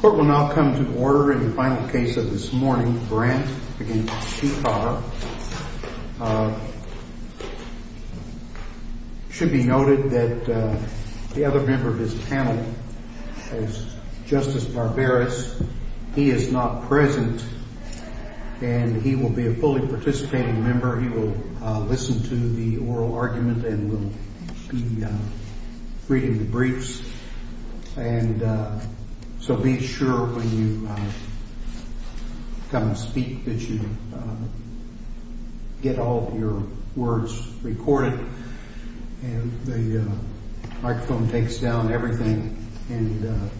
Court will now come to order in the final case of this morning, Brandt v. Shekar. It should be noted that the other member of this panel is Justice Barberis. He is not present and he will be a fully participating member. He will listen to the oral argument and will be reading the briefs. So be sure when you come to speak that you get all of your words recorded and the microphone takes down everything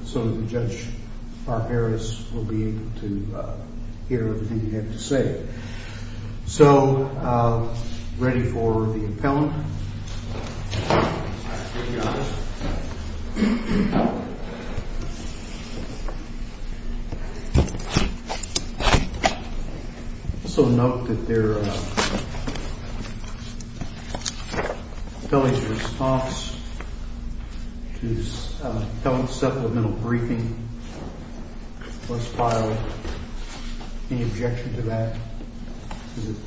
so that Judge Barberis will be able to hear everything you have to say. So, ready for the appellant. So note that the appellant's response to the appellant's supplemental briefing was filed. Any objection to that?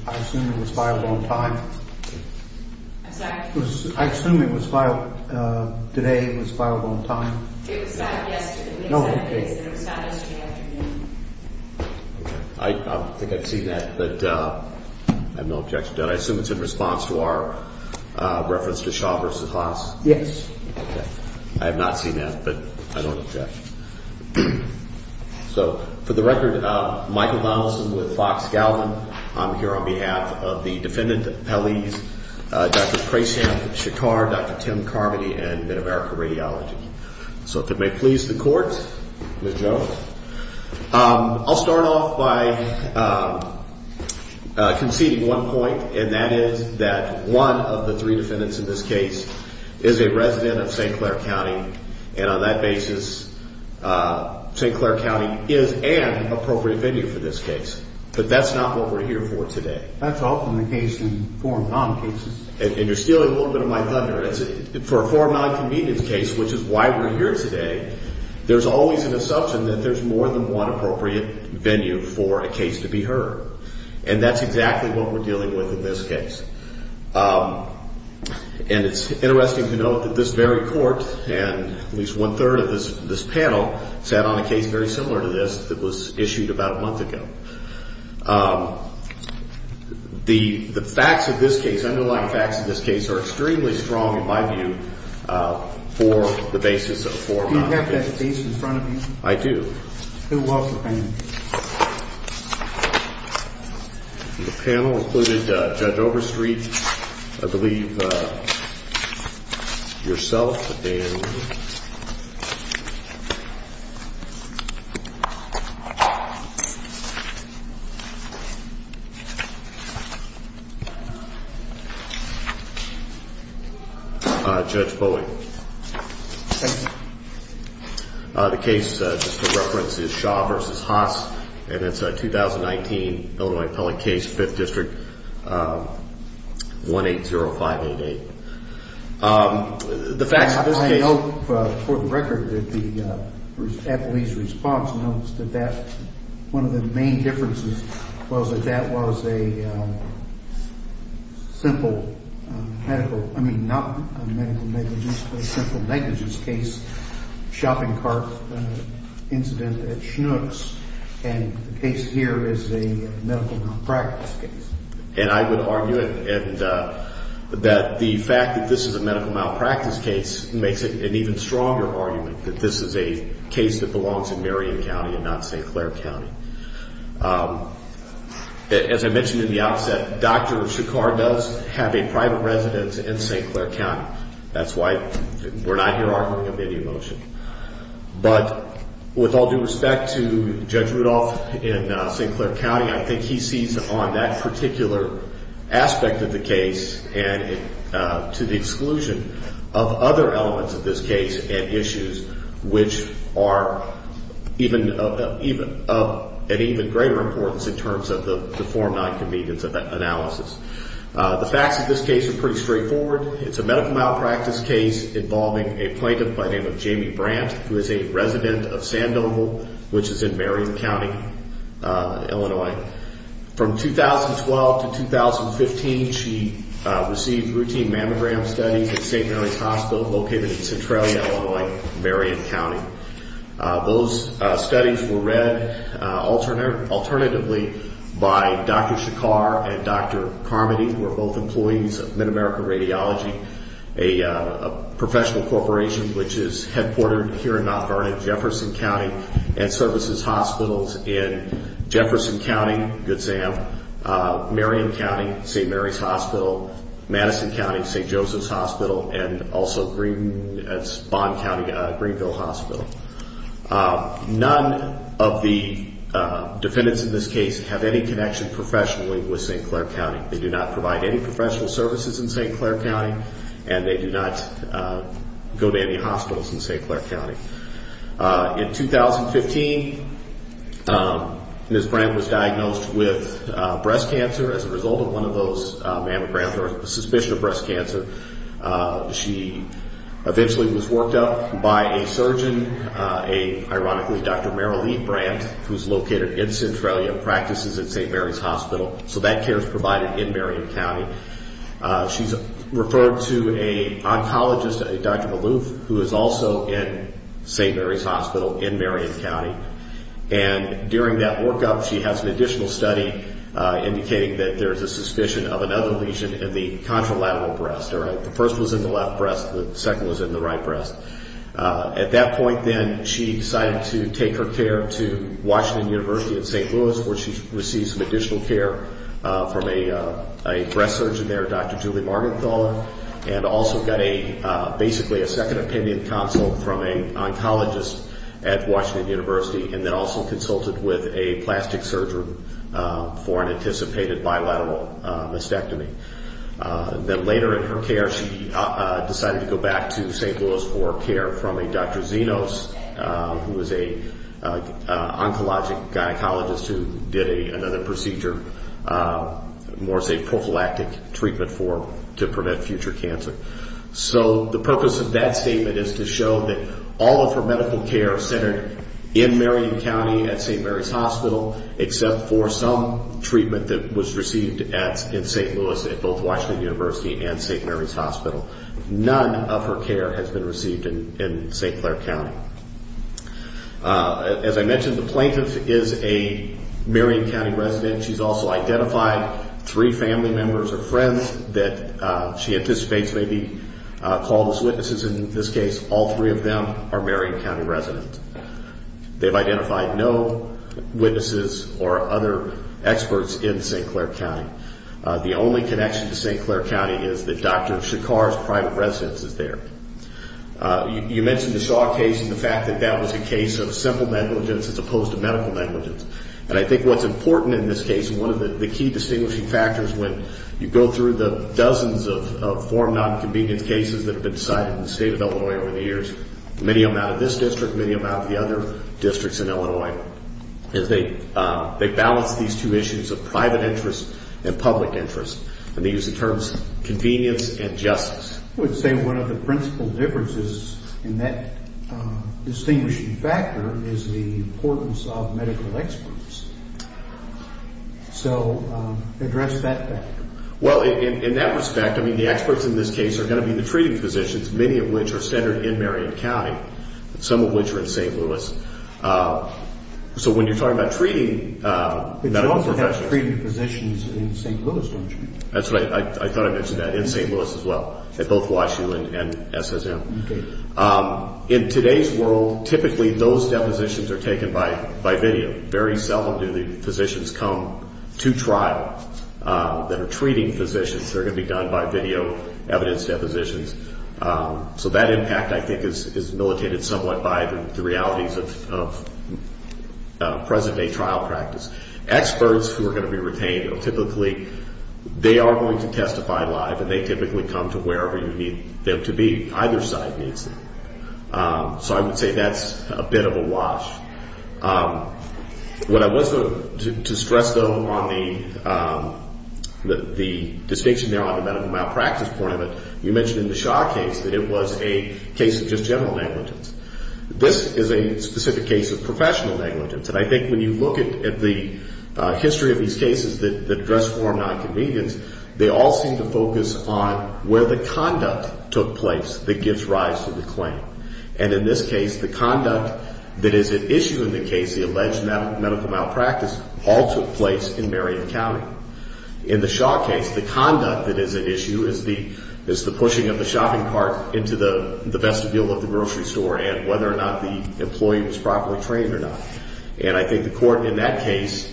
I assume it was filed on time? I assume it was filed today, it was filed on time? It was filed yesterday. I think I've seen that, but I have no objection to that. I assume it's in response to our reference to Shaw v. Haas? Yes. I have not seen that, but I don't object. So, for the record, Michael Donaldson with Fox Gallivan. I'm here on behalf of the defendant, Pelleas, Dr. Preysham v. Shekar, Dr. Tim Carmody, and MidAmerica Radiology. So if it may please the court, Ms. Jones. I'll start off by conceding one point, and that is that one of the three defendants in this case is a resident of St. Clair County, and on that basis, St. Clair County is an appropriate venue for this case. But that's not what we're here for today. That's often the case in foreign non-convenience cases. And you're stealing a little bit of my thunder. For a foreign non-convenience case, which is why we're here today, there's always an assumption that there's more than one appropriate venue for a case to be heard. And that's exactly what we're dealing with in this case. And it's interesting to note that this very court, and at least one-third of this panel, sat on a case very similar to this that was issued about a month ago. The facts of this case, underlying facts of this case, are extremely strong, in my view, for the basis of a foreign non-convenience case. Do you have that case in front of you? I do. Who was the panel? The panel included Judge Overstreet, I believe, yourself, and Judge Bowling. Thank you. The case, just for reference, is Shaw v. Haas, and it's a 2019 Illinois appellate case, 5th District, 180588. I hope, for the record, that the appellee's response notes that one of the main differences was that that was a simple medical, I mean, not a medical negligence, but a simple negligence case, a shopping cart incident at Schnucks. And the case here is a medical non-practice case. And I would argue that the fact that this is a medical malpractice case makes it an even stronger argument that this is a case that belongs in Marion County and not St. Clair County. As I mentioned in the outset, Dr. Shakar does have a private residence in St. Clair County. That's why we're not here arguing of any emotion. But with all due respect to Judge Rudolph in St. Clair County, I think he sees on that particular aspect of the case and to the exclusion of other elements of this case and issues which are of an even greater importance in terms of the form non-convenience analysis. The facts of this case are pretty straightforward. It's a medical malpractice case involving a plaintiff by the name of Jamie Brandt, who is a resident of Sandoval, which is in Marion County, Illinois. From 2012 to 2015, she received routine mammogram studies at St. Mary's Hospital located in Centralia, Illinois, Marion County. Those studies were read alternatively by Dr. Shakar and Dr. Carmody, who are both employees of MidAmerica Radiology, a professional corporation which is headquartered here in Mount Vernon, Jefferson County, and services hospitals in Jefferson County, Good Sam, Marion County, St. Mary's Hospital, Madison County, St. Joseph's Hospital, and also Bonn County, Greenville Hospital. None of the defendants in this case have any connection professionally with St. Clair County. They do not provide any professional services in St. Clair County, and they do not go to any hospitals in St. Clair County. In 2015, Ms. Brandt was diagnosed with breast cancer as a result of one of those mammograms, or a suspicion of breast cancer. She eventually was worked up by a surgeon, a, ironically, Dr. Marilee Brandt, who's located in Centralia, practices at St. Mary's Hospital, so that care is provided in Marion County. She's referred to an oncologist, Dr. Maloof, who is also in St. Mary's Hospital in Marion County. During that workup, she has an additional study indicating that there's a suspicion of another lesion in the contralateral breast. The first was in the left breast, the second was in the right breast. At that point, then, she decided to take her care to Washington University in St. Louis, where she received some additional care from a breast surgeon there, Dr. Julie Margenthaler, and also got a, basically, a second opinion consult from an oncologist at Washington University, and then also consulted with a plastic surgeon for an anticipated bilateral mastectomy. Then later in her care, she decided to go back to St. Louis for care from a Dr. Zenos, who is an oncologic gynecologist who did another procedure, more so a prophylactic treatment to prevent future cancer. The purpose of that statement is to show that all of her medical care is centered in Marion County at St. Mary's Hospital, except for some treatment that was received in St. Louis at both Washington University and St. Mary's Hospital. None of her care has been received in St. Clair County. As I mentioned, the plaintiff is a Marion County resident. She's also identified three family members or friends that she anticipates may be called as witnesses in this case. All three of them are Marion County residents. They've identified no witnesses or other experts in St. Clair County. The only connection to St. Clair County is that Dr. Shakar's private residence is there. You mentioned the Shaw case and the fact that that was a case of simple negligence as opposed to medical negligence. I think what's important in this case and one of the key distinguishing factors when you go through the dozens of foreign nonconvenience cases that have been cited in the state of Illinois over the years, many of them out of this district, many of them out of the other districts in Illinois, is they balance these two issues of private interest and public interest. They use the terms convenience and justice. I would say one of the principal differences in that distinguishing factor is the importance of medical experts. So address that factor. Well, in that respect, I mean, the experts in this case are going to be the treating physicians, many of which are centered in Marion County, some of which are in St. Louis. So when you're talking about treating medical professionals... But you also have treating physicians in St. Louis, don't you? That's right. I thought I mentioned that, in St. Louis as well. Both WashU and SSM. In today's world, typically those depositions are taken by video. Very seldom do the physicians come to trial that are treating physicians. They're going to be done by video evidence depositions. So that impact, I think, is militated somewhat by the realities of present-day trial practice. Experts who are going to be retained, typically they are going to testify live, and they typically come to wherever you need them to be. Either side needs them. So I would say that's a bit of a wash. What I was going to stress, though, on the distinction there on the medical malpractice point of it, you mentioned in the Shaw case that it was a case of just general negligence. This is a specific case of professional negligence. And I think when you look at the history of these cases that address form nonconvenience, they all seem to focus on where the conduct took place that gives rise to the claim. And in this case, the conduct that is at issue in the case, the alleged medical malpractice, all took place in Marion County. In the Shaw case, the conduct that is at issue is the pushing of the shopping cart into the vestibule of the grocery store and whether or not the employee was properly trained or not. And I think the court in that case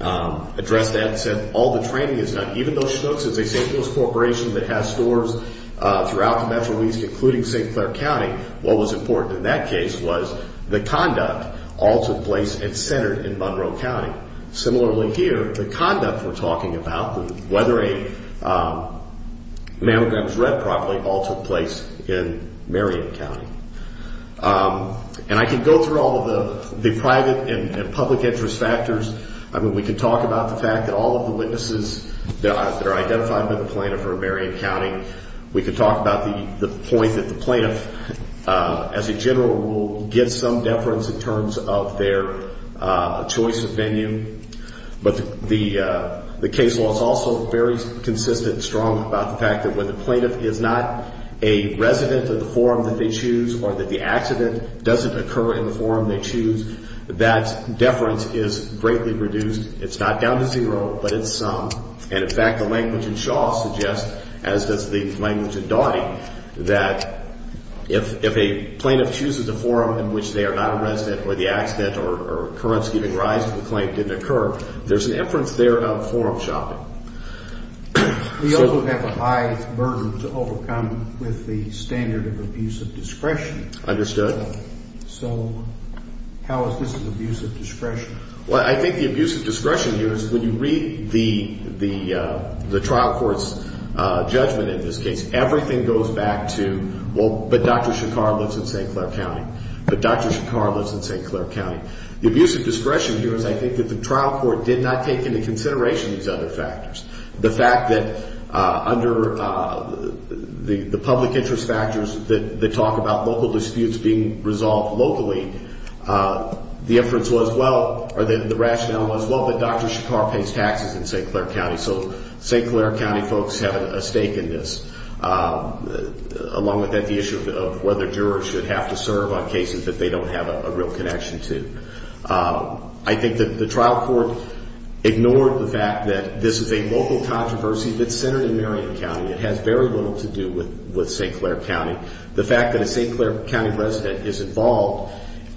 addressed that and said all the training is done. Even though Schnooks is a safetyless corporation that has stores throughout the Metro East, including St. Clair County, what was important in that case was the conduct all took place and centered in Monroe County. Similarly here, the conduct we're talking about, whether a mammogram is read properly, all took place in Marion County. And I can go through all of the private and public interest factors. We can talk about the fact that all of the witnesses that are identified by the plaintiff are in Marion County. We can talk about the point that the plaintiff, as a general rule, gets some deference in terms of their choice of venue. But the case law is also very consistent and strong about the fact that when the plaintiff is not a resident of the forum that they choose, or that the accident doesn't occur in the forum they choose, that deference is greatly reduced. It's not down to zero, but it's some. And in fact, the language in Shaw suggests, as does the language in Doughty, that if a plaintiff chooses a forum in which they are not a resident or the accident or occurrence giving rise to the claim didn't occur, there's an inference there of forum shopping. We also have a high burden to overcome with the standard of abusive discretion. Understood. So how is this an abusive discretion? Well, I think the abusive discretion here is when you read the trial court's judgment in this case, everything goes back to, well, but Dr. Shakar lives in St. Clair County. But Dr. Shakar lives in St. Clair County. The abusive discretion here is I think that the trial court did not take into consideration these other factors. The fact that under the public interest factors that talk about local disputes being resolved locally, the inference was, well, or the rationale was, well, but Dr. Shakar pays taxes in St. Clair County, so St. Clair County folks have a stake in this. Along with that, the issue of whether jurors should have to serve on cases that they don't have a real connection to. I think that the trial court ignored the fact that this is a local controversy that's centered in Marion County. It has very little to do with St. Clair County. The fact that a St. Clair County resident is involved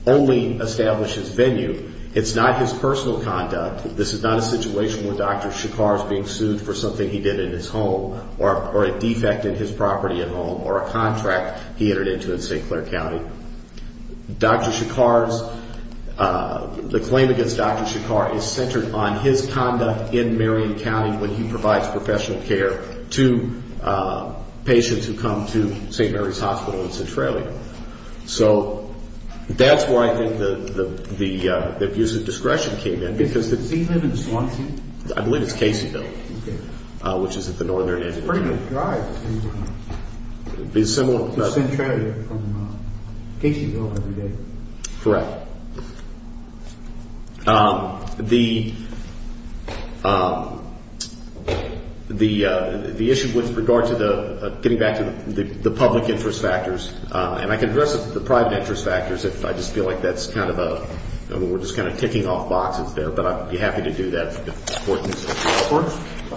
only establishes venue. It's not his personal conduct. This is not a situation where Dr. Shakar is being sued for something he did in his home or a defect in his property at home or a contract he entered into in St. Clair County. Dr. Shakar's, the claim against Dr. Shakar is centered on his conduct in Marion County when he provides professional care to patients who come to St. Mary's Hospital in Centralia. So that's where I think the abuse of discretion came in because the... I believe it's Caseyville, which is at the northern end. It's a pretty good drive. It'd be similar... To Centralia from Caseyville every day. Correct. The issue with regard to the, getting back to the public interest factors, and I can address the private interest factors if I just feel like that's kind of a, we're just kind of ticking off boxes there, but I'd be happy to do that. We're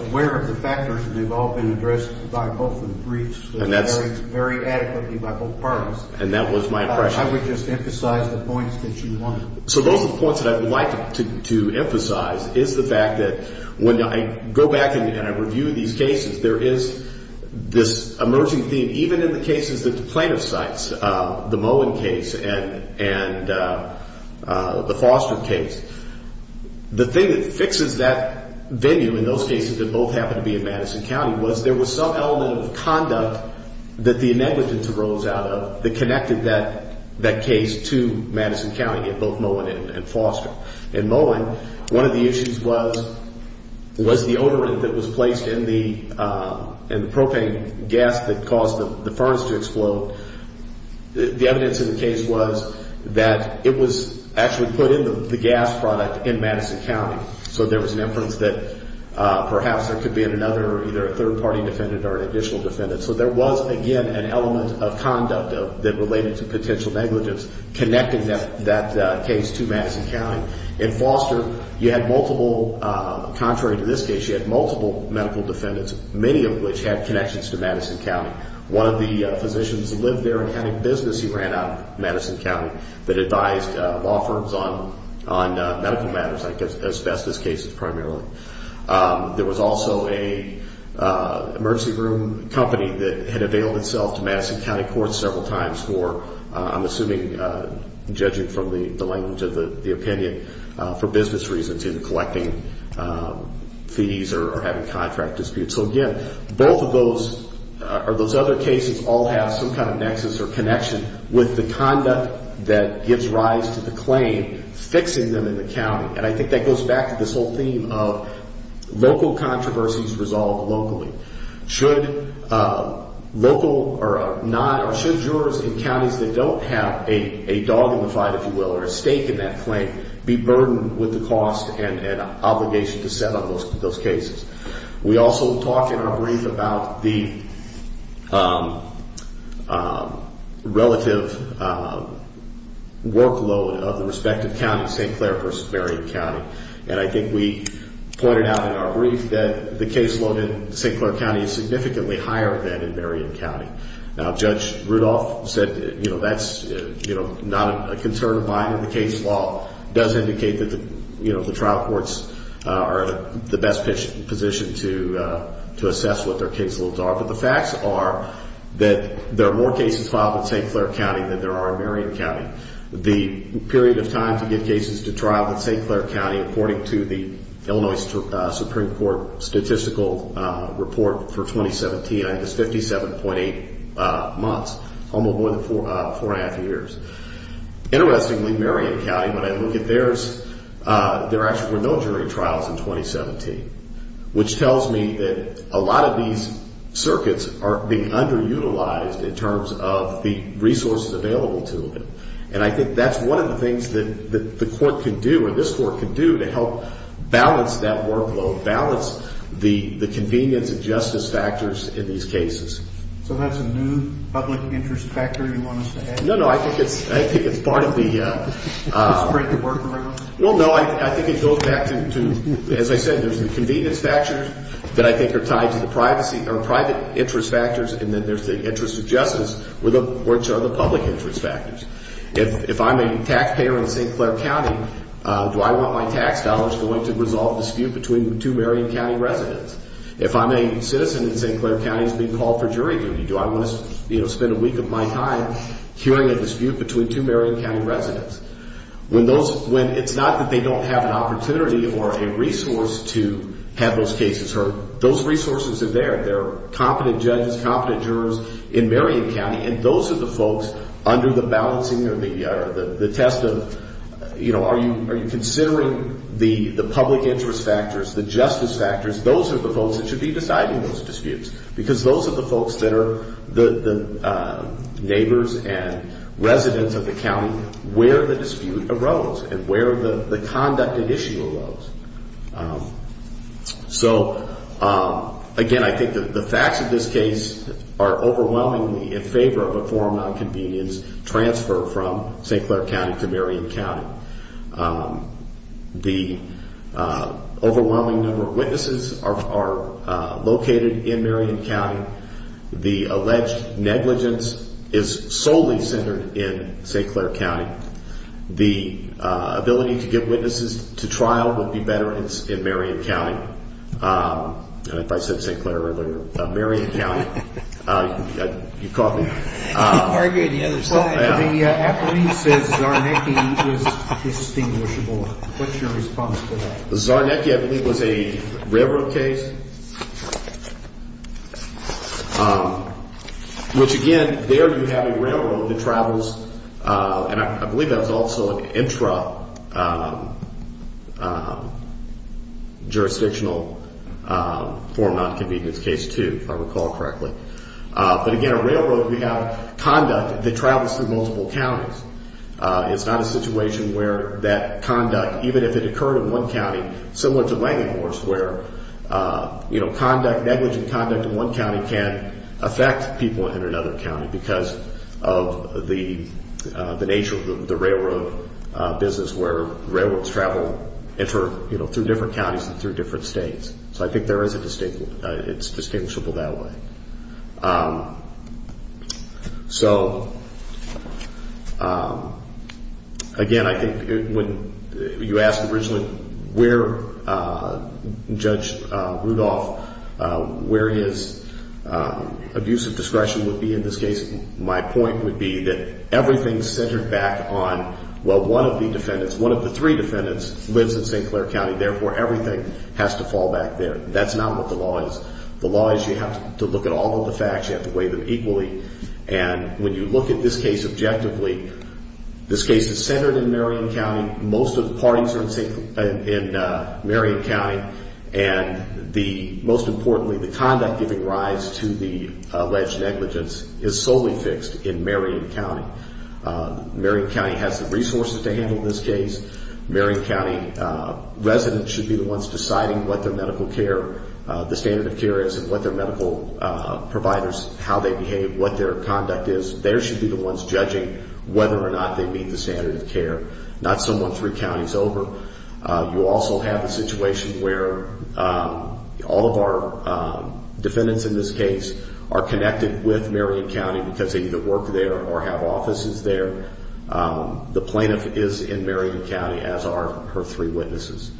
aware of the factors and they've all been addressed by both of the briefs. Very adequately by both parties. And that was my impression. I would just emphasize the points that you wanted. So those are the points that I would like to emphasize is the fact that when I go back and I review these cases, there is this emerging theme, even in the cases that the plaintiff cites, the Moen case and the Foster case. The thing that fixes that venue in those cases that both happen to be in Madison County was there was some element of conduct that the negligence arose out of that connected that case to Madison County in both Moen and Foster. In Moen, one of the issues was the odorant that was placed in the propane gas that caused the furnace to explode. The evidence in the case was that it was actually put in the gas product in Madison County. So there was an inference that perhaps there could be another, either a third party defendant or an additional defendant. So there was, again, an element of conduct that related to potential negligence connecting that case to Madison County. In Foster, you had multiple, contrary to this case, you had multiple medical defendants, many of which had connections to Madison County. One of the physicians who lived there and had a business he ran out of Madison County that advised law firms on medical matters, asbestos cases primarily. There was also an emergency room company that had availed itself to Madison County courts several times for, I'm assuming, judging from the language of the opinion, for business reasons, either collecting fees or having contract disputes. So again, both of those, or those other cases, all have some kind of nexus or connection with the conduct that gives rise to the claim, fixing them in the county. And I think that goes back to this whole theme of local controversies resolved locally. Should local, or not, or should jurors in counties that don't have a dog in the fight, if you will, or a stake in that claim, be burdened with the cost and obligation to settle those cases? We also talk in our brief about the relative workload of the respective counties, St. Clair versus Marion County. And I think we pointed out in our brief that the caseload in St. Clair County is significantly higher than in Marion County. Now Judge Rudolph said that's not a concern of mine. The fact that the case law does indicate that the trial courts are in the best position to assess what their caseloads are. But the facts are that there are more cases filed in St. Clair County than there are in Marion County. The period of time to get cases to trial in St. Clair County, according to the Illinois Supreme Court Statistical Report for 2017, I think it's 57.8 months, almost more than four and a half years. Interestingly, Marion County, when I look at theirs, there actually were no jury trials in 2017. Which tells me that a lot of these circuits are being underutilized in terms of the resources available to them. And I think that's one of the things that the court can do, or this court can do, to help balance that workload, balance the convenience and justice factors in these cases. So that's a new public interest factor you want us to have? No, no, I think it's part of the... To spread the word for everyone? No, no, I think it goes back to, as I said, there's the convenience factors that I think are tied to the privacy, or private interest factors, and then there's the interest of justice, which are the public interest factors. If I'm a taxpayer in St. Clair County, do I want my tax dollars going to resolve the dispute between two Marion County residents? If I'm a citizen in St. Clair County and it's being called for jury duty, do I want to spend a week of my time hearing a dispute between two Marion County residents? It's not that they don't have an opportunity or a resource to have those cases heard. Those resources are there. There are competent judges, competent jurors in Marion County, and those are the folks under the balancing or the test of, are you considering the public interest factors, the justice factors? Those are the folks that should be deciding those disputes. Because those are the folks that are the neighbors and residents of the county where the dispute arose and where the conduct and issue arose. So, again, I think that the facts of this case are overwhelmingly in favor of a forum on convenience transfer from St. Clair County to Marion County. The overwhelming number of witnesses are located in Marion County. The alleged negligence is solely centered in St. Clair County. The ability to get witnesses to trial would be better in Marion County. And if I said St. Clair earlier, Marion County. You caught me. Very good. The affidavit says Czarnecki is distinguishable. What's your response to that? Czarnecki, I believe, was a railroad case. Which, again, there you have a railroad that travels, and I believe that was also an intra-jurisdictional forum on convenience case, too, if I recall correctly. But, again, a railroad, we have conduct that travels through multiple counties. It's not a situation where that conduct, even if it occurred in one county, similar to Langenhorst where, you know, conduct, negligent conduct in one county can affect people in another county because of the nature of the railroad business where railroads travel through different counties and through different states. So I think it's distinguishable that way. So, again, I think when you asked originally where Judge Rudolph, where his abuse of discretion would be in this case, my point would be that everything's centered back on, well, one of the defendants, one of the three defendants lives in St. Clair County. Therefore, everything has to fall back there. That's not what the law is. The law is you have to look at all of the facts. You have to weigh them equally. And when you look at this case objectively, this case is centered in Marion County. Most of the parties are in Marion County. And the, most importantly, the conduct giving rise to the alleged negligence is solely fixed in Marion County. Marion County has the resources to handle this case. Marion County residents should be the ones deciding what their medical care, the standard of care is and what their medical providers, how they behave, what their conduct is. They should be the ones judging whether or not they meet the standard of care. Not someone three counties over. You also have a situation where all of our defendants in this case are connected with Marion County because they either work there or have offices there. The plaintiff is in Marion County as are her three witnesses.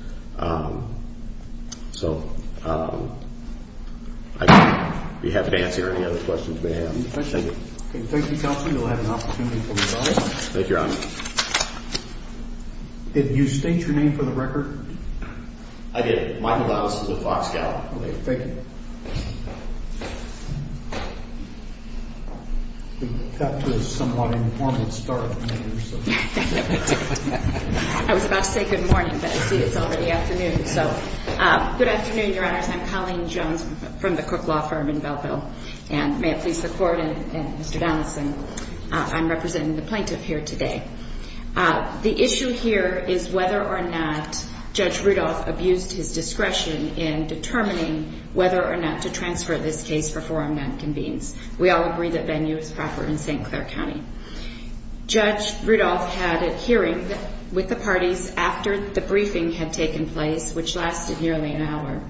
So I think we have to answer any other questions you may have. Thank you. Thank you, Counselor. You'll have an opportunity to respond. Thank you, Your Honor. Did you state your name for the record? I did. Michael Valdez with the Foxcow. Thank you. We've got to a somewhat informal start. I was about to say good morning, but I did. It's already afternoon. Good afternoon, Your Honors. I'm Colleen Jones from the Cook Law Firm in Belleville. May it please the Court and Mr. Donaldson. I'm representing the plaintiff here today. The issue here is whether or not Judge Rudolph abused his discretion in determining whether or not to transfer this case for forum non-convenience. We all agree that venue is proper in St. Clair County. Judge Rudolph had a hearing with the parties after the briefing had taken place, which lasted nearly an hour.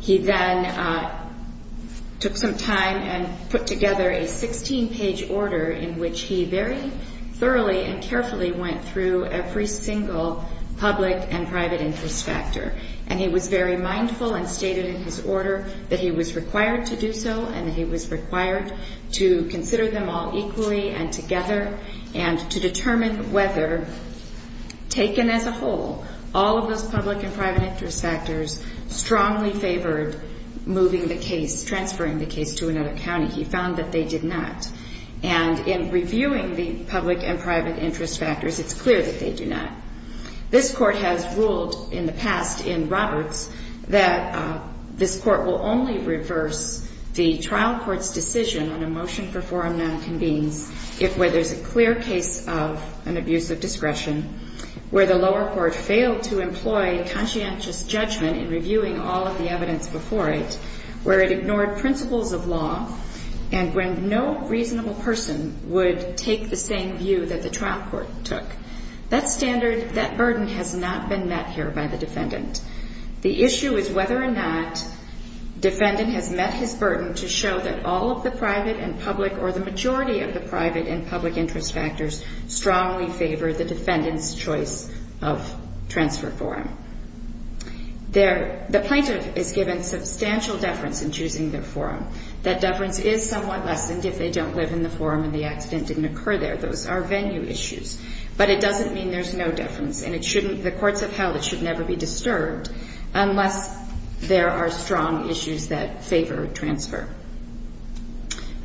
He then took some time and put together a 16-page order in which he very thoroughly and carefully went through every single public and private interest factor. And he was very mindful and stated in his order that he was required to do so and that he was required to consider them all equally and together and to determine whether, taken as a whole, all of those public and private interest factors strongly favored moving the case, transferring the case to another county. He found that they did not. And in reviewing the public and private interest factors, it's clear that they do not. This Court has ruled in the past in Roberts that this Court will only reverse the trial court's decision on a motion for forum non-convenience if where there's a clear case of an abuse of discretion, where the lower court failed to employ conscientious judgment in reviewing all of the evidence before it, where it ignored principles of law, and when no reasonable person would take the same view that the trial court took. That standard, that burden has not been met here by the defendant. The issue is whether or not defendant has met his burden to show that all of the private and public or the majority of the private and public interest factors strongly favor the defendant's choice of transfer forum. The plaintiff is given substantial deference in choosing their forum. That deference is somewhat lessened if they don't live in the forum and the accident didn't occur there. Those are venue issues. But it doesn't mean there's no deference. And it shouldn't, the courts have held it should never be disturbed unless there are strong issues that favor transfer.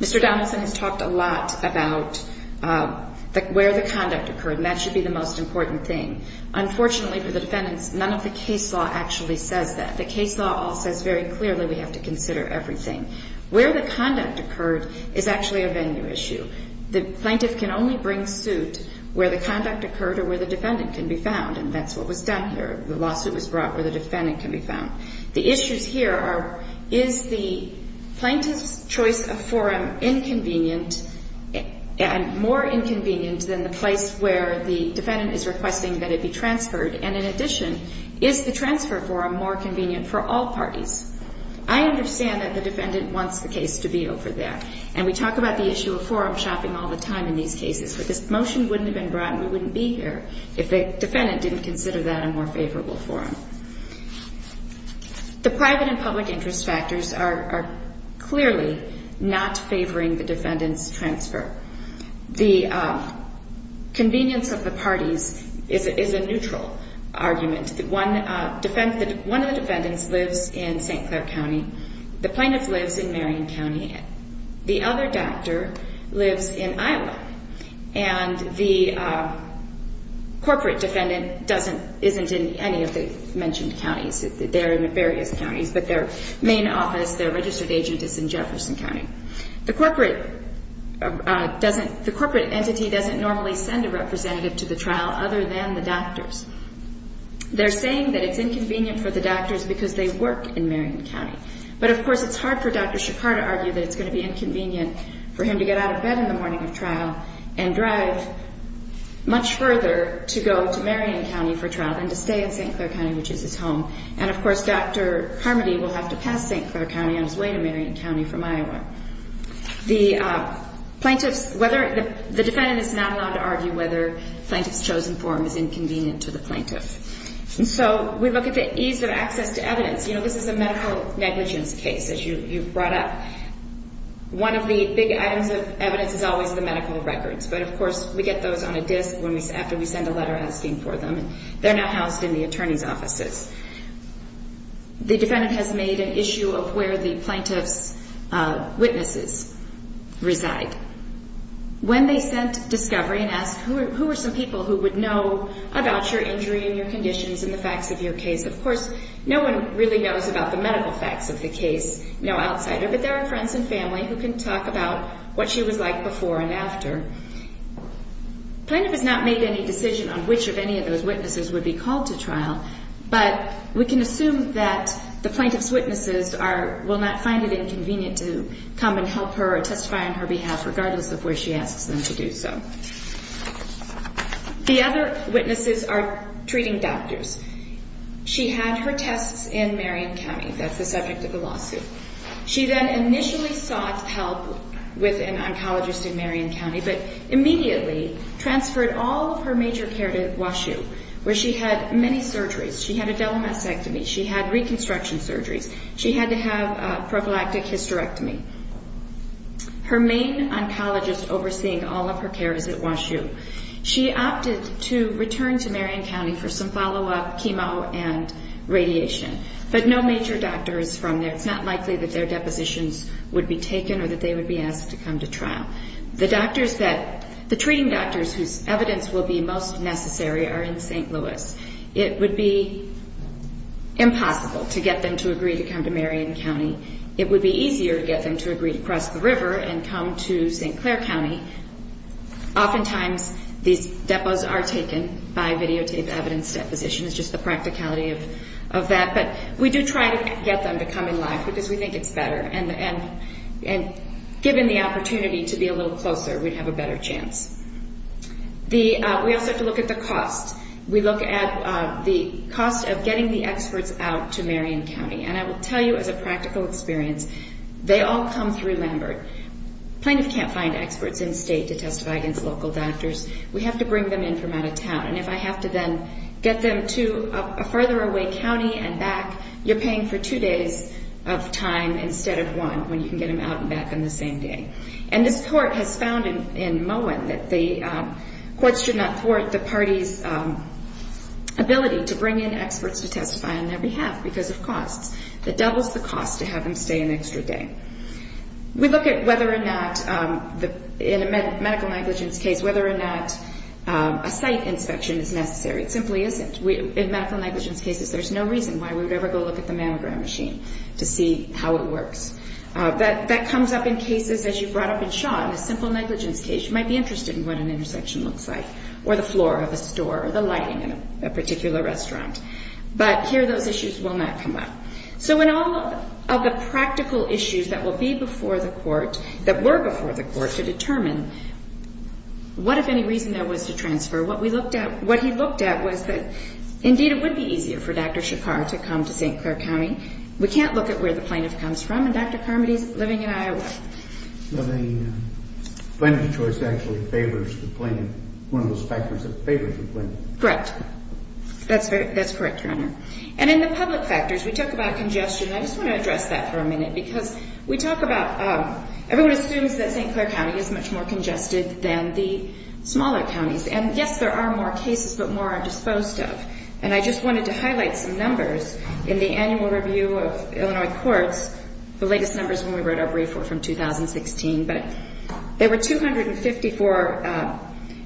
Mr. Donaldson has talked a lot about where the conduct occurred, and that should be the most important thing. Unfortunately for the defendants, none of the case law actually says that. The case law all says very clearly we have to consider everything. Where the conduct occurred is actually a venue issue. The plaintiff can only bring suit where the conduct occurred or where the defendant can be found. And that's what was done here. The lawsuit was brought where the defendant can be found. The issues here are, is the plaintiff's choice of forum inconvenient, more inconvenient than the place where the defendant is requesting that it be transferred? And in addition, is the transfer forum more convenient for all parties? I understand that the defendant wants the case to be over there. And we talk about the issue of forum shopping all the time in these cases. But this motion wouldn't have been brought and we wouldn't be here if the defendant didn't consider that a more favorable forum. The private and public interest factors are clearly not favoring the defendant's transfer. The convenience of the parties is a neutral argument. One of the defendants lives in St. Clair County. The plaintiff lives in Marion County. The other doctor lives in Iowa. And the corporate defendant doesn't, isn't in any of the mentioned counties. They're in various counties, but their main office, their registered agent is in Jefferson County. The corporate doesn't, the corporate entity doesn't normally send a representative to the trial other than the doctors. They're saying that it's inconvenient for the doctors because they work in Marion County. But of course it's hard for Dr. Chicago to argue that it's going to be inconvenient for him to get out of bed in the morning of trial and drive much further to go to Marion County for trial than to stay in St. Clair County, which is his home. And of course Dr. Carmody will have to pass St. Clair County on his way to Marion County from Iowa. The plaintiff's, whether, the defendant is not allowed to argue whether the plaintiff's chosen forum is inconvenient to the plaintiff. So we look at the ease of access to evidence. You know, this is a medical negligence case, as you brought up. One of the big items of evidence is always the medical records. But of course we get those on a disc after we send a letter asking for them. They're not housed in the attorney's offices. The defendant has made an issue of where the plaintiff's witnesses reside. When they sent discovery and asked who are some people who would know about your injury and your conditions and the facts of your case, of course no one really knows about the medical facts of the case, no outsider, but there are friends and family who can talk about what she was like before and after. The plaintiff has not made any decision on which of any of those witnesses would be called to trial, but we can assume that the plaintiff's witnesses will not find it inconvenient to come and help her or testify on her behalf regardless of where she asks them to do so. The other witnesses are treating doctors. She had her tests in Marion County. That's the subject of the lawsuit. She then initially sought help with an oncologist in Marion County, but immediately transferred all of her major care to WashU, where she had many surgeries. She had a double mastectomy. She had reconstruction surgeries. She had to have a prophylactic hysterectomy. Her main oncologist overseeing all of her care is at WashU. She opted to return to Marion County for some follow-up chemo and radiation, but no major doctor is from there. It's not likely that their depositions would be taken or that they would be asked to come to trial. The treating doctors whose evidence will be most necessary are in St. Louis. It would be impossible to get them to agree to come to Marion County. It would be easier to get them to agree to cross the river and come to St. Clair County. Oftentimes, these depots are taken by videotaped evidence deposition. It's just the practicality of that. But we do try to get them to come in live because we think it's better. And given the opportunity to be a little closer, we'd have a better chance. We also have to look at the cost. We look at the cost of getting the experts out to Marion County. And I will tell you as a practical experience, they all come through Lambert. Plaintiff can't find experts in state to testify against local doctors. We have to bring them in from out of town. And if I have to then get them to a farther away county and back, you're paying for two days of time instead of one when you can get them out and back on the same day. And this court has found in Moen that the courts should not thwart the party's ability to bring in experts to testify on their behalf because of costs. That doubles the cost to have them stay an extra day. We look at whether or not, in a medical negligence case, whether or not a site inspection is necessary. It simply isn't. In medical negligence cases, there's no reason why we would ever go look at the mammogram machine to see how it works. That comes up in cases, as you brought up in Shaw, in a simple negligence case. You might be interested in what an intersection looks like or the floor of a store or the lighting in a particular restaurant. But here those issues will not come up. So in all of the practical issues that will be before the court, that were before the court, to determine what, if any, reason there was to transfer, what we looked at, what he looked at, was that indeed it would be easier for Dr. Shakar to come to St. Clair County. We can't look at where the plaintiff comes from and Dr. Carmody's living in Iowa. The plaintiff's choice actually favors the plaintiff. One of those factors that favors the plaintiff. Correct. That's correct, Your Honor. And in the public factors, we talk about congestion. I just want to address that for a minute because we talk about, everyone assumes that St. Clair County is much more congested than the smaller counties. And yes, there are more cases, but more are disposed of. And I just wanted to highlight some numbers in the annual review of Illinois courts, the latest numbers when we wrote our brief were from 2016, but there were 254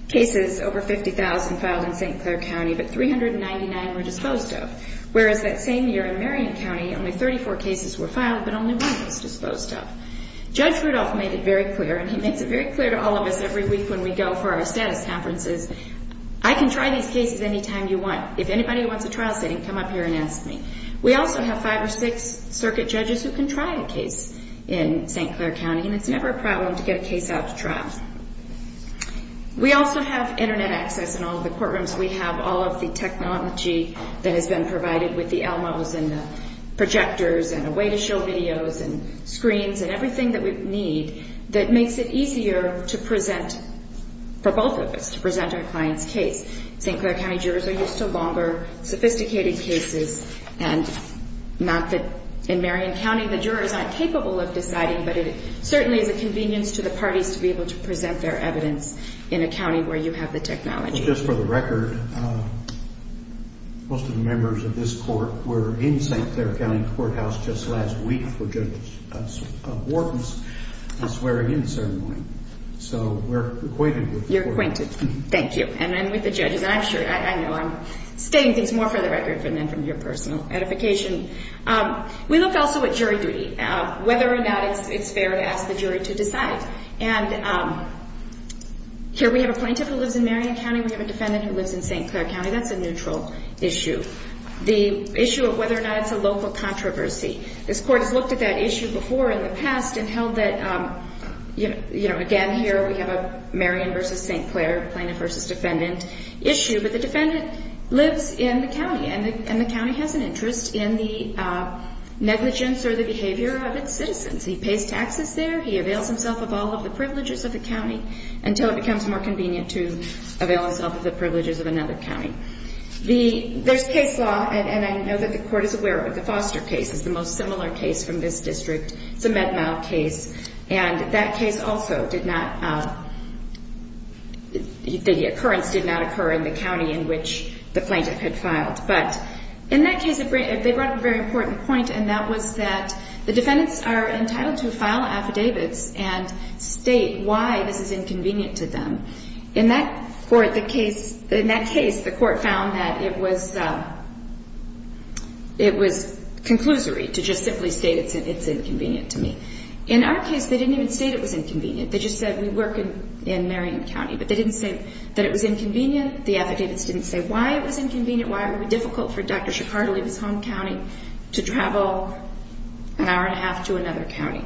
cases, over 50,000, filed in St. Clair County, but 399 were disposed of. Whereas that same year in Marion County, only 34 cases were filed, but only one was disposed of. Judge Rudolph made it very clear, and he makes it very clear to all of us every week when we go for our status conferences, I can try these cases anytime you want. If anybody wants a trial sitting, come up here and ask me. We also have five or six circuit judges who can try a case in St. Clair County, and it's never a problem to get a case out to trial. We also have internet access in all of the courtrooms. We have all of the technology that has been provided with the ELMOs and the projectors and a way to show videos and screens and everything that we need that makes it easier to present for both of us, to present our client's case. St. Clair County jurors are used to longer, sophisticated cases, and not that in Marion County the jurors aren't capable of deciding, but it certainly is a convenience to the parties to be able to present their evidence in a county where you have the technology. Just for the record, most of the members of this court were in St. Clair County Courthouse just last week for Judge Wharton's swearing-in ceremony, so we're acquainted with the court. You're acquainted, thank you, and with the judges. I'm sure, I know, I'm stating things more for the record than from your personal edification. We looked also at jury duty, whether or not it's fair to ask the jury to decide. And here we have a plaintiff who lives in Marion County, we have a defendant who lives in St. Clair County. That's a neutral issue. The issue of whether or not it's a local controversy. This court has looked at that issue before in the past and held that, again, here we have a Marion versus St. Clair plaintiff versus defendant issue, but the defendant lives in the county, and the county has an interest in the negligence or the behavior of its citizens. He pays taxes there, he avails himself of all of the privileges of the county until it becomes more convenient to avail himself of the privileges of another county. There's case law, and I know that the court is aware of it. It's a Med-Mal case. It's the most similar case from this district. It's a Med-Mal case, and that case also did not, the occurrence did not occur in the county in which the plaintiff had filed. But in that case, they brought up a very important point, and that was that the defendants are entitled to file affidavits and state why this is inconvenient to them. In that court, the case, in that case, the court found that it was, it was conclusory to just simply state it's inconvenient to me. In our case, they didn't even state it was inconvenient. They just said we work in Marion County, but they didn't say that it was inconvenient. The affidavits didn't say why it was inconvenient, why it would be difficult for Dr. Chicago to leave his home county to travel an hour and a half to another county.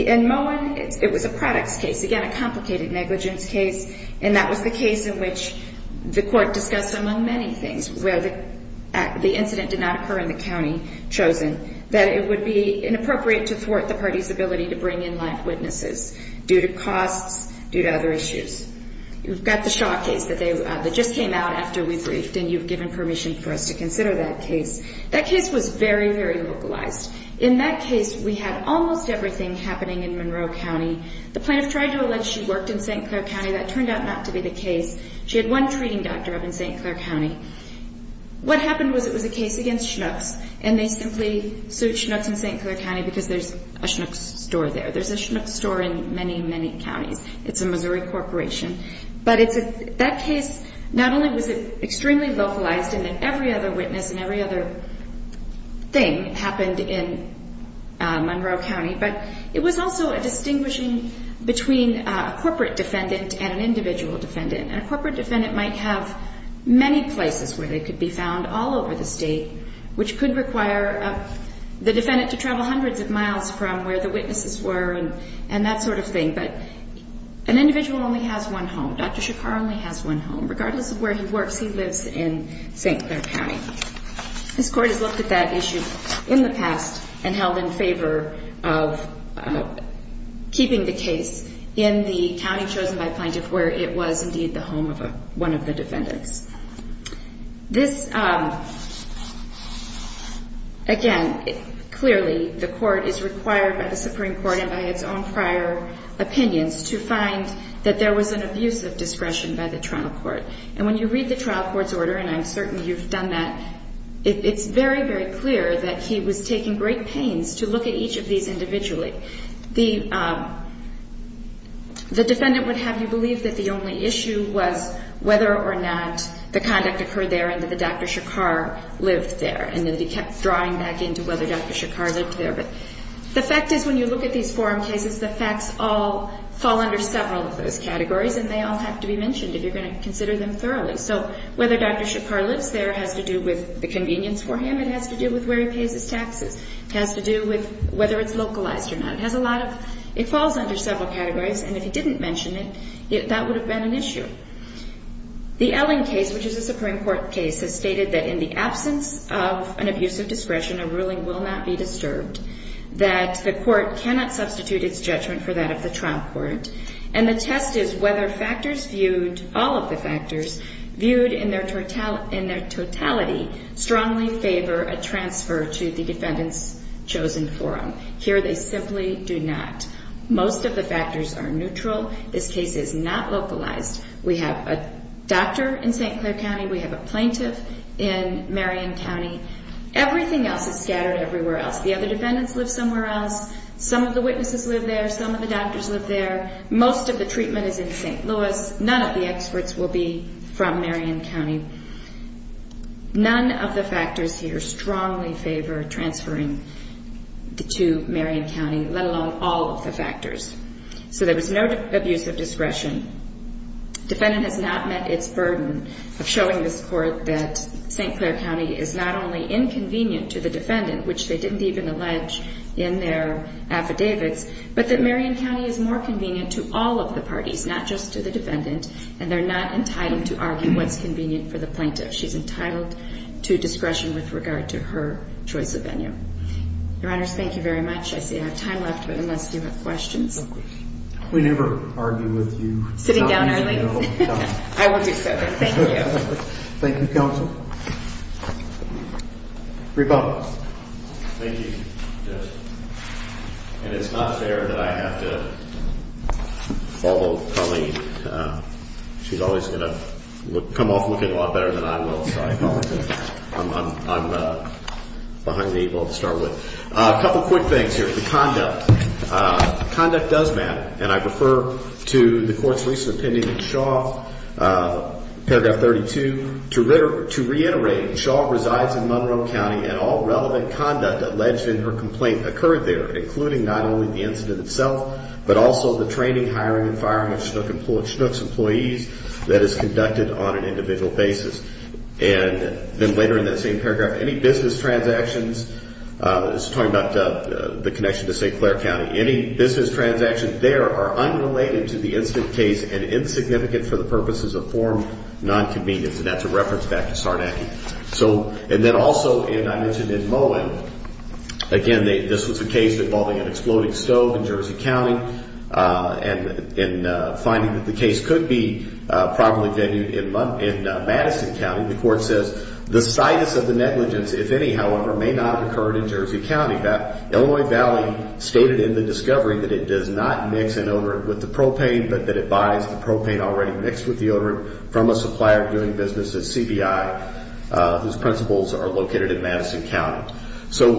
In Moen, it was a products case, again, a complicated negligence case, and that was the case in which the court discussed among many things where the incident did not occur in the county chosen, that it would be inappropriate to thwart the party's ability to bring in live witnesses due to costs, due to other issues. You've got the Shaw case that just came out after we briefed, and you've given permission for us to consider that case. That case was very, very localized. In that case, we had almost everything happening in Monroe County. The plaintiff tried to allege she worked in St. Clair County. It turned out not to be the case. She had one treating doctor up in St. Clair County. What happened was it was a case against Schnucks, and they simply sued Schnucks in St. Clair County because there's a Schnucks store there. There's a Schnucks store in many, many counties. It's a Missouri corporation. But that case, not only was it extremely localized and that every other witness and every other thing happened in Monroe County, but it was also a distinguishing between a corporate defendant and an individual defendant. And a corporate defendant might have many places where they could be found all over the state, which could require the defendant to travel hundreds of miles from where the witnesses were and that sort of thing. But an individual only has one home. Dr. Shakar only has one home. Regardless of where he works, he lives in St. Clair County. This Court has looked at that issue in the past and held in favor of keeping the case in the county chosen by plaintiff where it was indeed the home of one of the defendants. This, again, clearly the Court is required by the Supreme Court and by its own prior opinions to find that there was an abuse of discretion by the trial court. And when you read the trial court's order, and I'm certain you've done that, it's very, very clear that he was taking great pains to look at each of these individually. The defendant would have you believe that the only issue was whether or not the conduct occurred there and that Dr. Shakar lived there and that he kept drawing back into whether Dr. Shakar lived there. But the fact is when you look at these forum cases, the facts all fall under several of those categories and they all have to be mentioned if you're going to consider them thoroughly. So whether Dr. Shakar lives there has to do with the convenience for him. It has to do with where he pays his taxes. It has to do with whether it's localized or not. It falls under several categories and if he didn't mention it, that would have been an issue. The Elling case, which is a Supreme Court case, has stated that in the absence of an abuse of discretion, a ruling will not be disturbed, that the Court cannot substitute its judgment for that of the trial court, and the test is whether factors viewed, all of the factors viewed in their totality, strongly favor a transfer to the defendant's chosen forum. Here they simply do not. Most of the factors are neutral. This case is not localized. We have a doctor in St. Clair County. We have a plaintiff in Marion County. Everything else is scattered everywhere else. The other defendants live somewhere else. Some of the witnesses live there. Some of the doctors live there. Most of the treatment is in St. Louis. None of the experts will be from Marion County. None of the factors here strongly favor transferring to Marion County, let alone all of the factors. So there was no abuse of discretion. Defendant has not met its burden of showing this Court that St. Clair County is not only inconvenient to the defendant, which they didn't even allege in their affidavits, but that Marion County is more convenient to all of the parties, not just to the defendant, and they're not entitled to argue on what's convenient for the plaintiff. She's entitled to discretion with regard to her choice of venue. Your Honors, thank you very much. I see I have time left, but unless you have questions. We never argue with you. Sitting down, are we? I will do so, but thank you. Thank you, Counsel. Reba. Thank you, Judge. And it's not fair that I have to follow Colleen. She's always going to come off looking a lot better than I will. Sorry, Colleen. I'm behind the equal to start with. A couple quick things here. The conduct. Conduct does matter, and I refer to the Court's recent opinion in Shaw, paragraph 32, to reiterate Shaw resides in Monroe County, and all relevant conduct alleged in her complaint occurred there, including not only the incident itself, but also the training, hiring, and firing of Schnook's employees that is conducted on an individual basis. And then later in that same paragraph, any business transactions, this is talking about the connection to St. Clair County, any business transactions there are unrelated to the incident case and insignificant for the purposes of form non-convenience, and that's a reference back to Sarnacki. So, and then also, and I mentioned in Mullen, again, this was a case involving an exploding stove in Jersey County, and in finding that the case could be probably venued in Madison County, the Court says, the situs of the negligence, if any, however, may not have occurred in Jersey County. Illinois Valley stated in the discovery that it does not mix an odorant with the propane, but that it buys the propane already mixed with the odorant from a supplier doing business at CBI, whose principals are located in Madison County. So,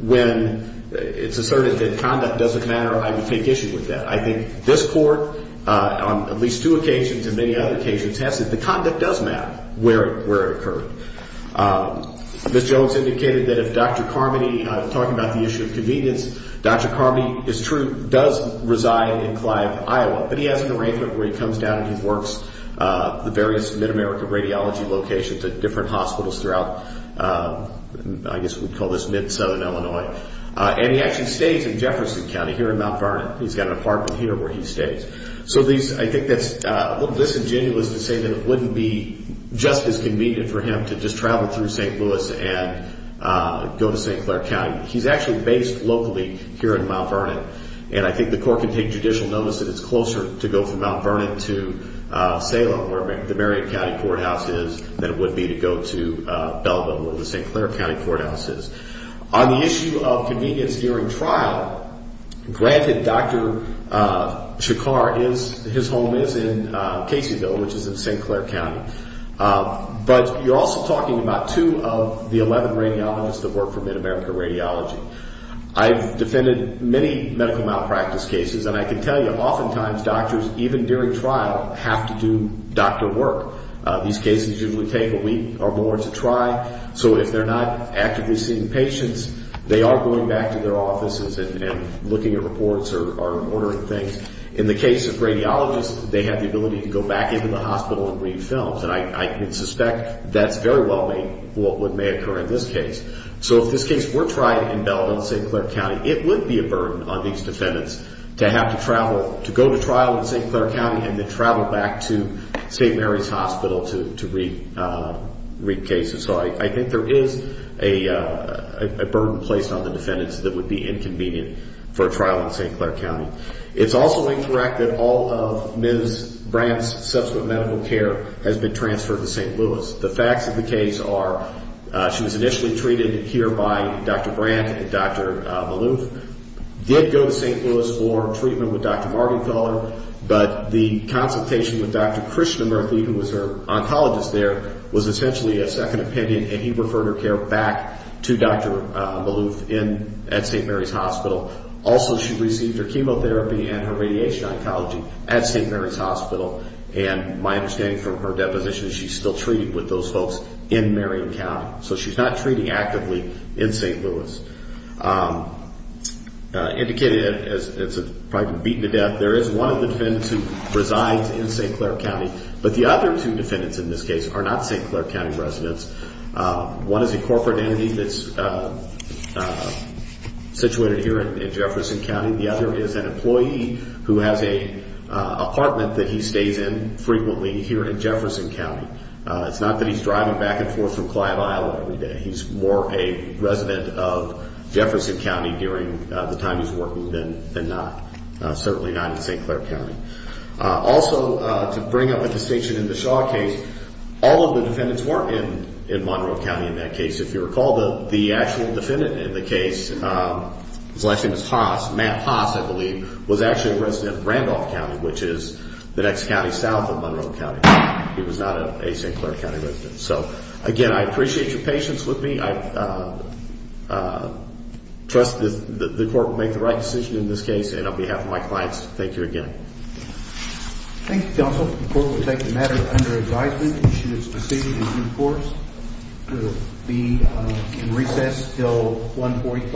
when it's asserted that conduct doesn't matter, I would take issue with that. I think this Court, on at least two occasions and many other occasions, has said the conduct does matter where it occurred. Ms. Jones indicated that if Dr. Carmody, talking about the issue of convenience, Dr. Carmody is true, does reside in Clive, Iowa, but he has an arrangement where he comes down and he works the various Mid-America radiology locations at different hospitals throughout, I guess we'd call this Mid-Southern Illinois. And he actually stays in Jefferson County here in Mount Vernon. He's got an apartment here where he stays. So, I think that's a little disingenuous to say that it wouldn't be just as convenient for him to just travel through St. Louis and go to St. Clair County. He's actually based locally here in Mount Vernon, and I think the Court can take judicial notice that it's closer to go from Mount Vernon to Salem, where the Marion County Courthouse is, than it would be to go to Belvin, where the St. Clair County Courthouse is. On the issue of convenience during trial, granted Dr. Chakar is, his home is in Caseyville, which is in St. Clair County. But you're also talking about two of the 11 radiologists that work for Mid-America Radiology. I've defended many medical malpractice cases, and I can tell you, oftentimes doctors, even during trial, have to do doctor These cases usually take a week or more to try, so if they're not actively seeing patients, they are going back to their offices and looking at reports or ordering things. In the case of radiologists, they have the ability to go back into the hospital and read films, and I can suspect that's very well what may occur in this case. So if this case were tried in Belvin and St. Clair County, it would be a burden on these defendants to have to travel, to go to trial in St. Clair County and then travel back to St. Mary's Hospital to read cases. That would be a burden placed on the defendants that would be inconvenient for a trial in St. Clair County. It's also incorrect that all of Ms. Brandt's subsequent medical care has been transferred to St. Louis. The facts of the case are she was initially treated here by Dr. Brandt and Dr. Malouf, did go to St. Louis for treatment with Dr. Martinfeller, but the consultation with Dr. Malouf at St. Mary's Hospital. Also, she received her chemotherapy and her radiation oncology at St. Mary's Hospital, and my understanding from her deposition is she's still treated with those folks in Marion County. So she's not treating actively in St. Louis. Indicated as a private beaten to death, there is one of the defendants who resides in St. Clair County, but the other two are situated here in Jefferson County. The other is an employee who has a apartment that he stays in frequently here in Jefferson County. It's not that he's driving back and forth from Clio every day. He's more a resident of Jefferson County during the time he's working than not. Certainly not in St. Clair County. Also, to bring up a distinction in the Shaw case, all of the defendants weren't in Monroe County in that case. If you recall, the actual defendant in the case, his last name is Haas, Matt Haas, I believe, was actually a resident of Randolph County, which is the next county south of Monroe County. He was not a St. Clair County resident. So, again, I appreciate your patience with me. I trust the court will make the right decision in this case, and on behalf of my clients, thank you again. Thank you, counsel. The court will take the matter under advisement. Issue is received in due course to be in recess until 145.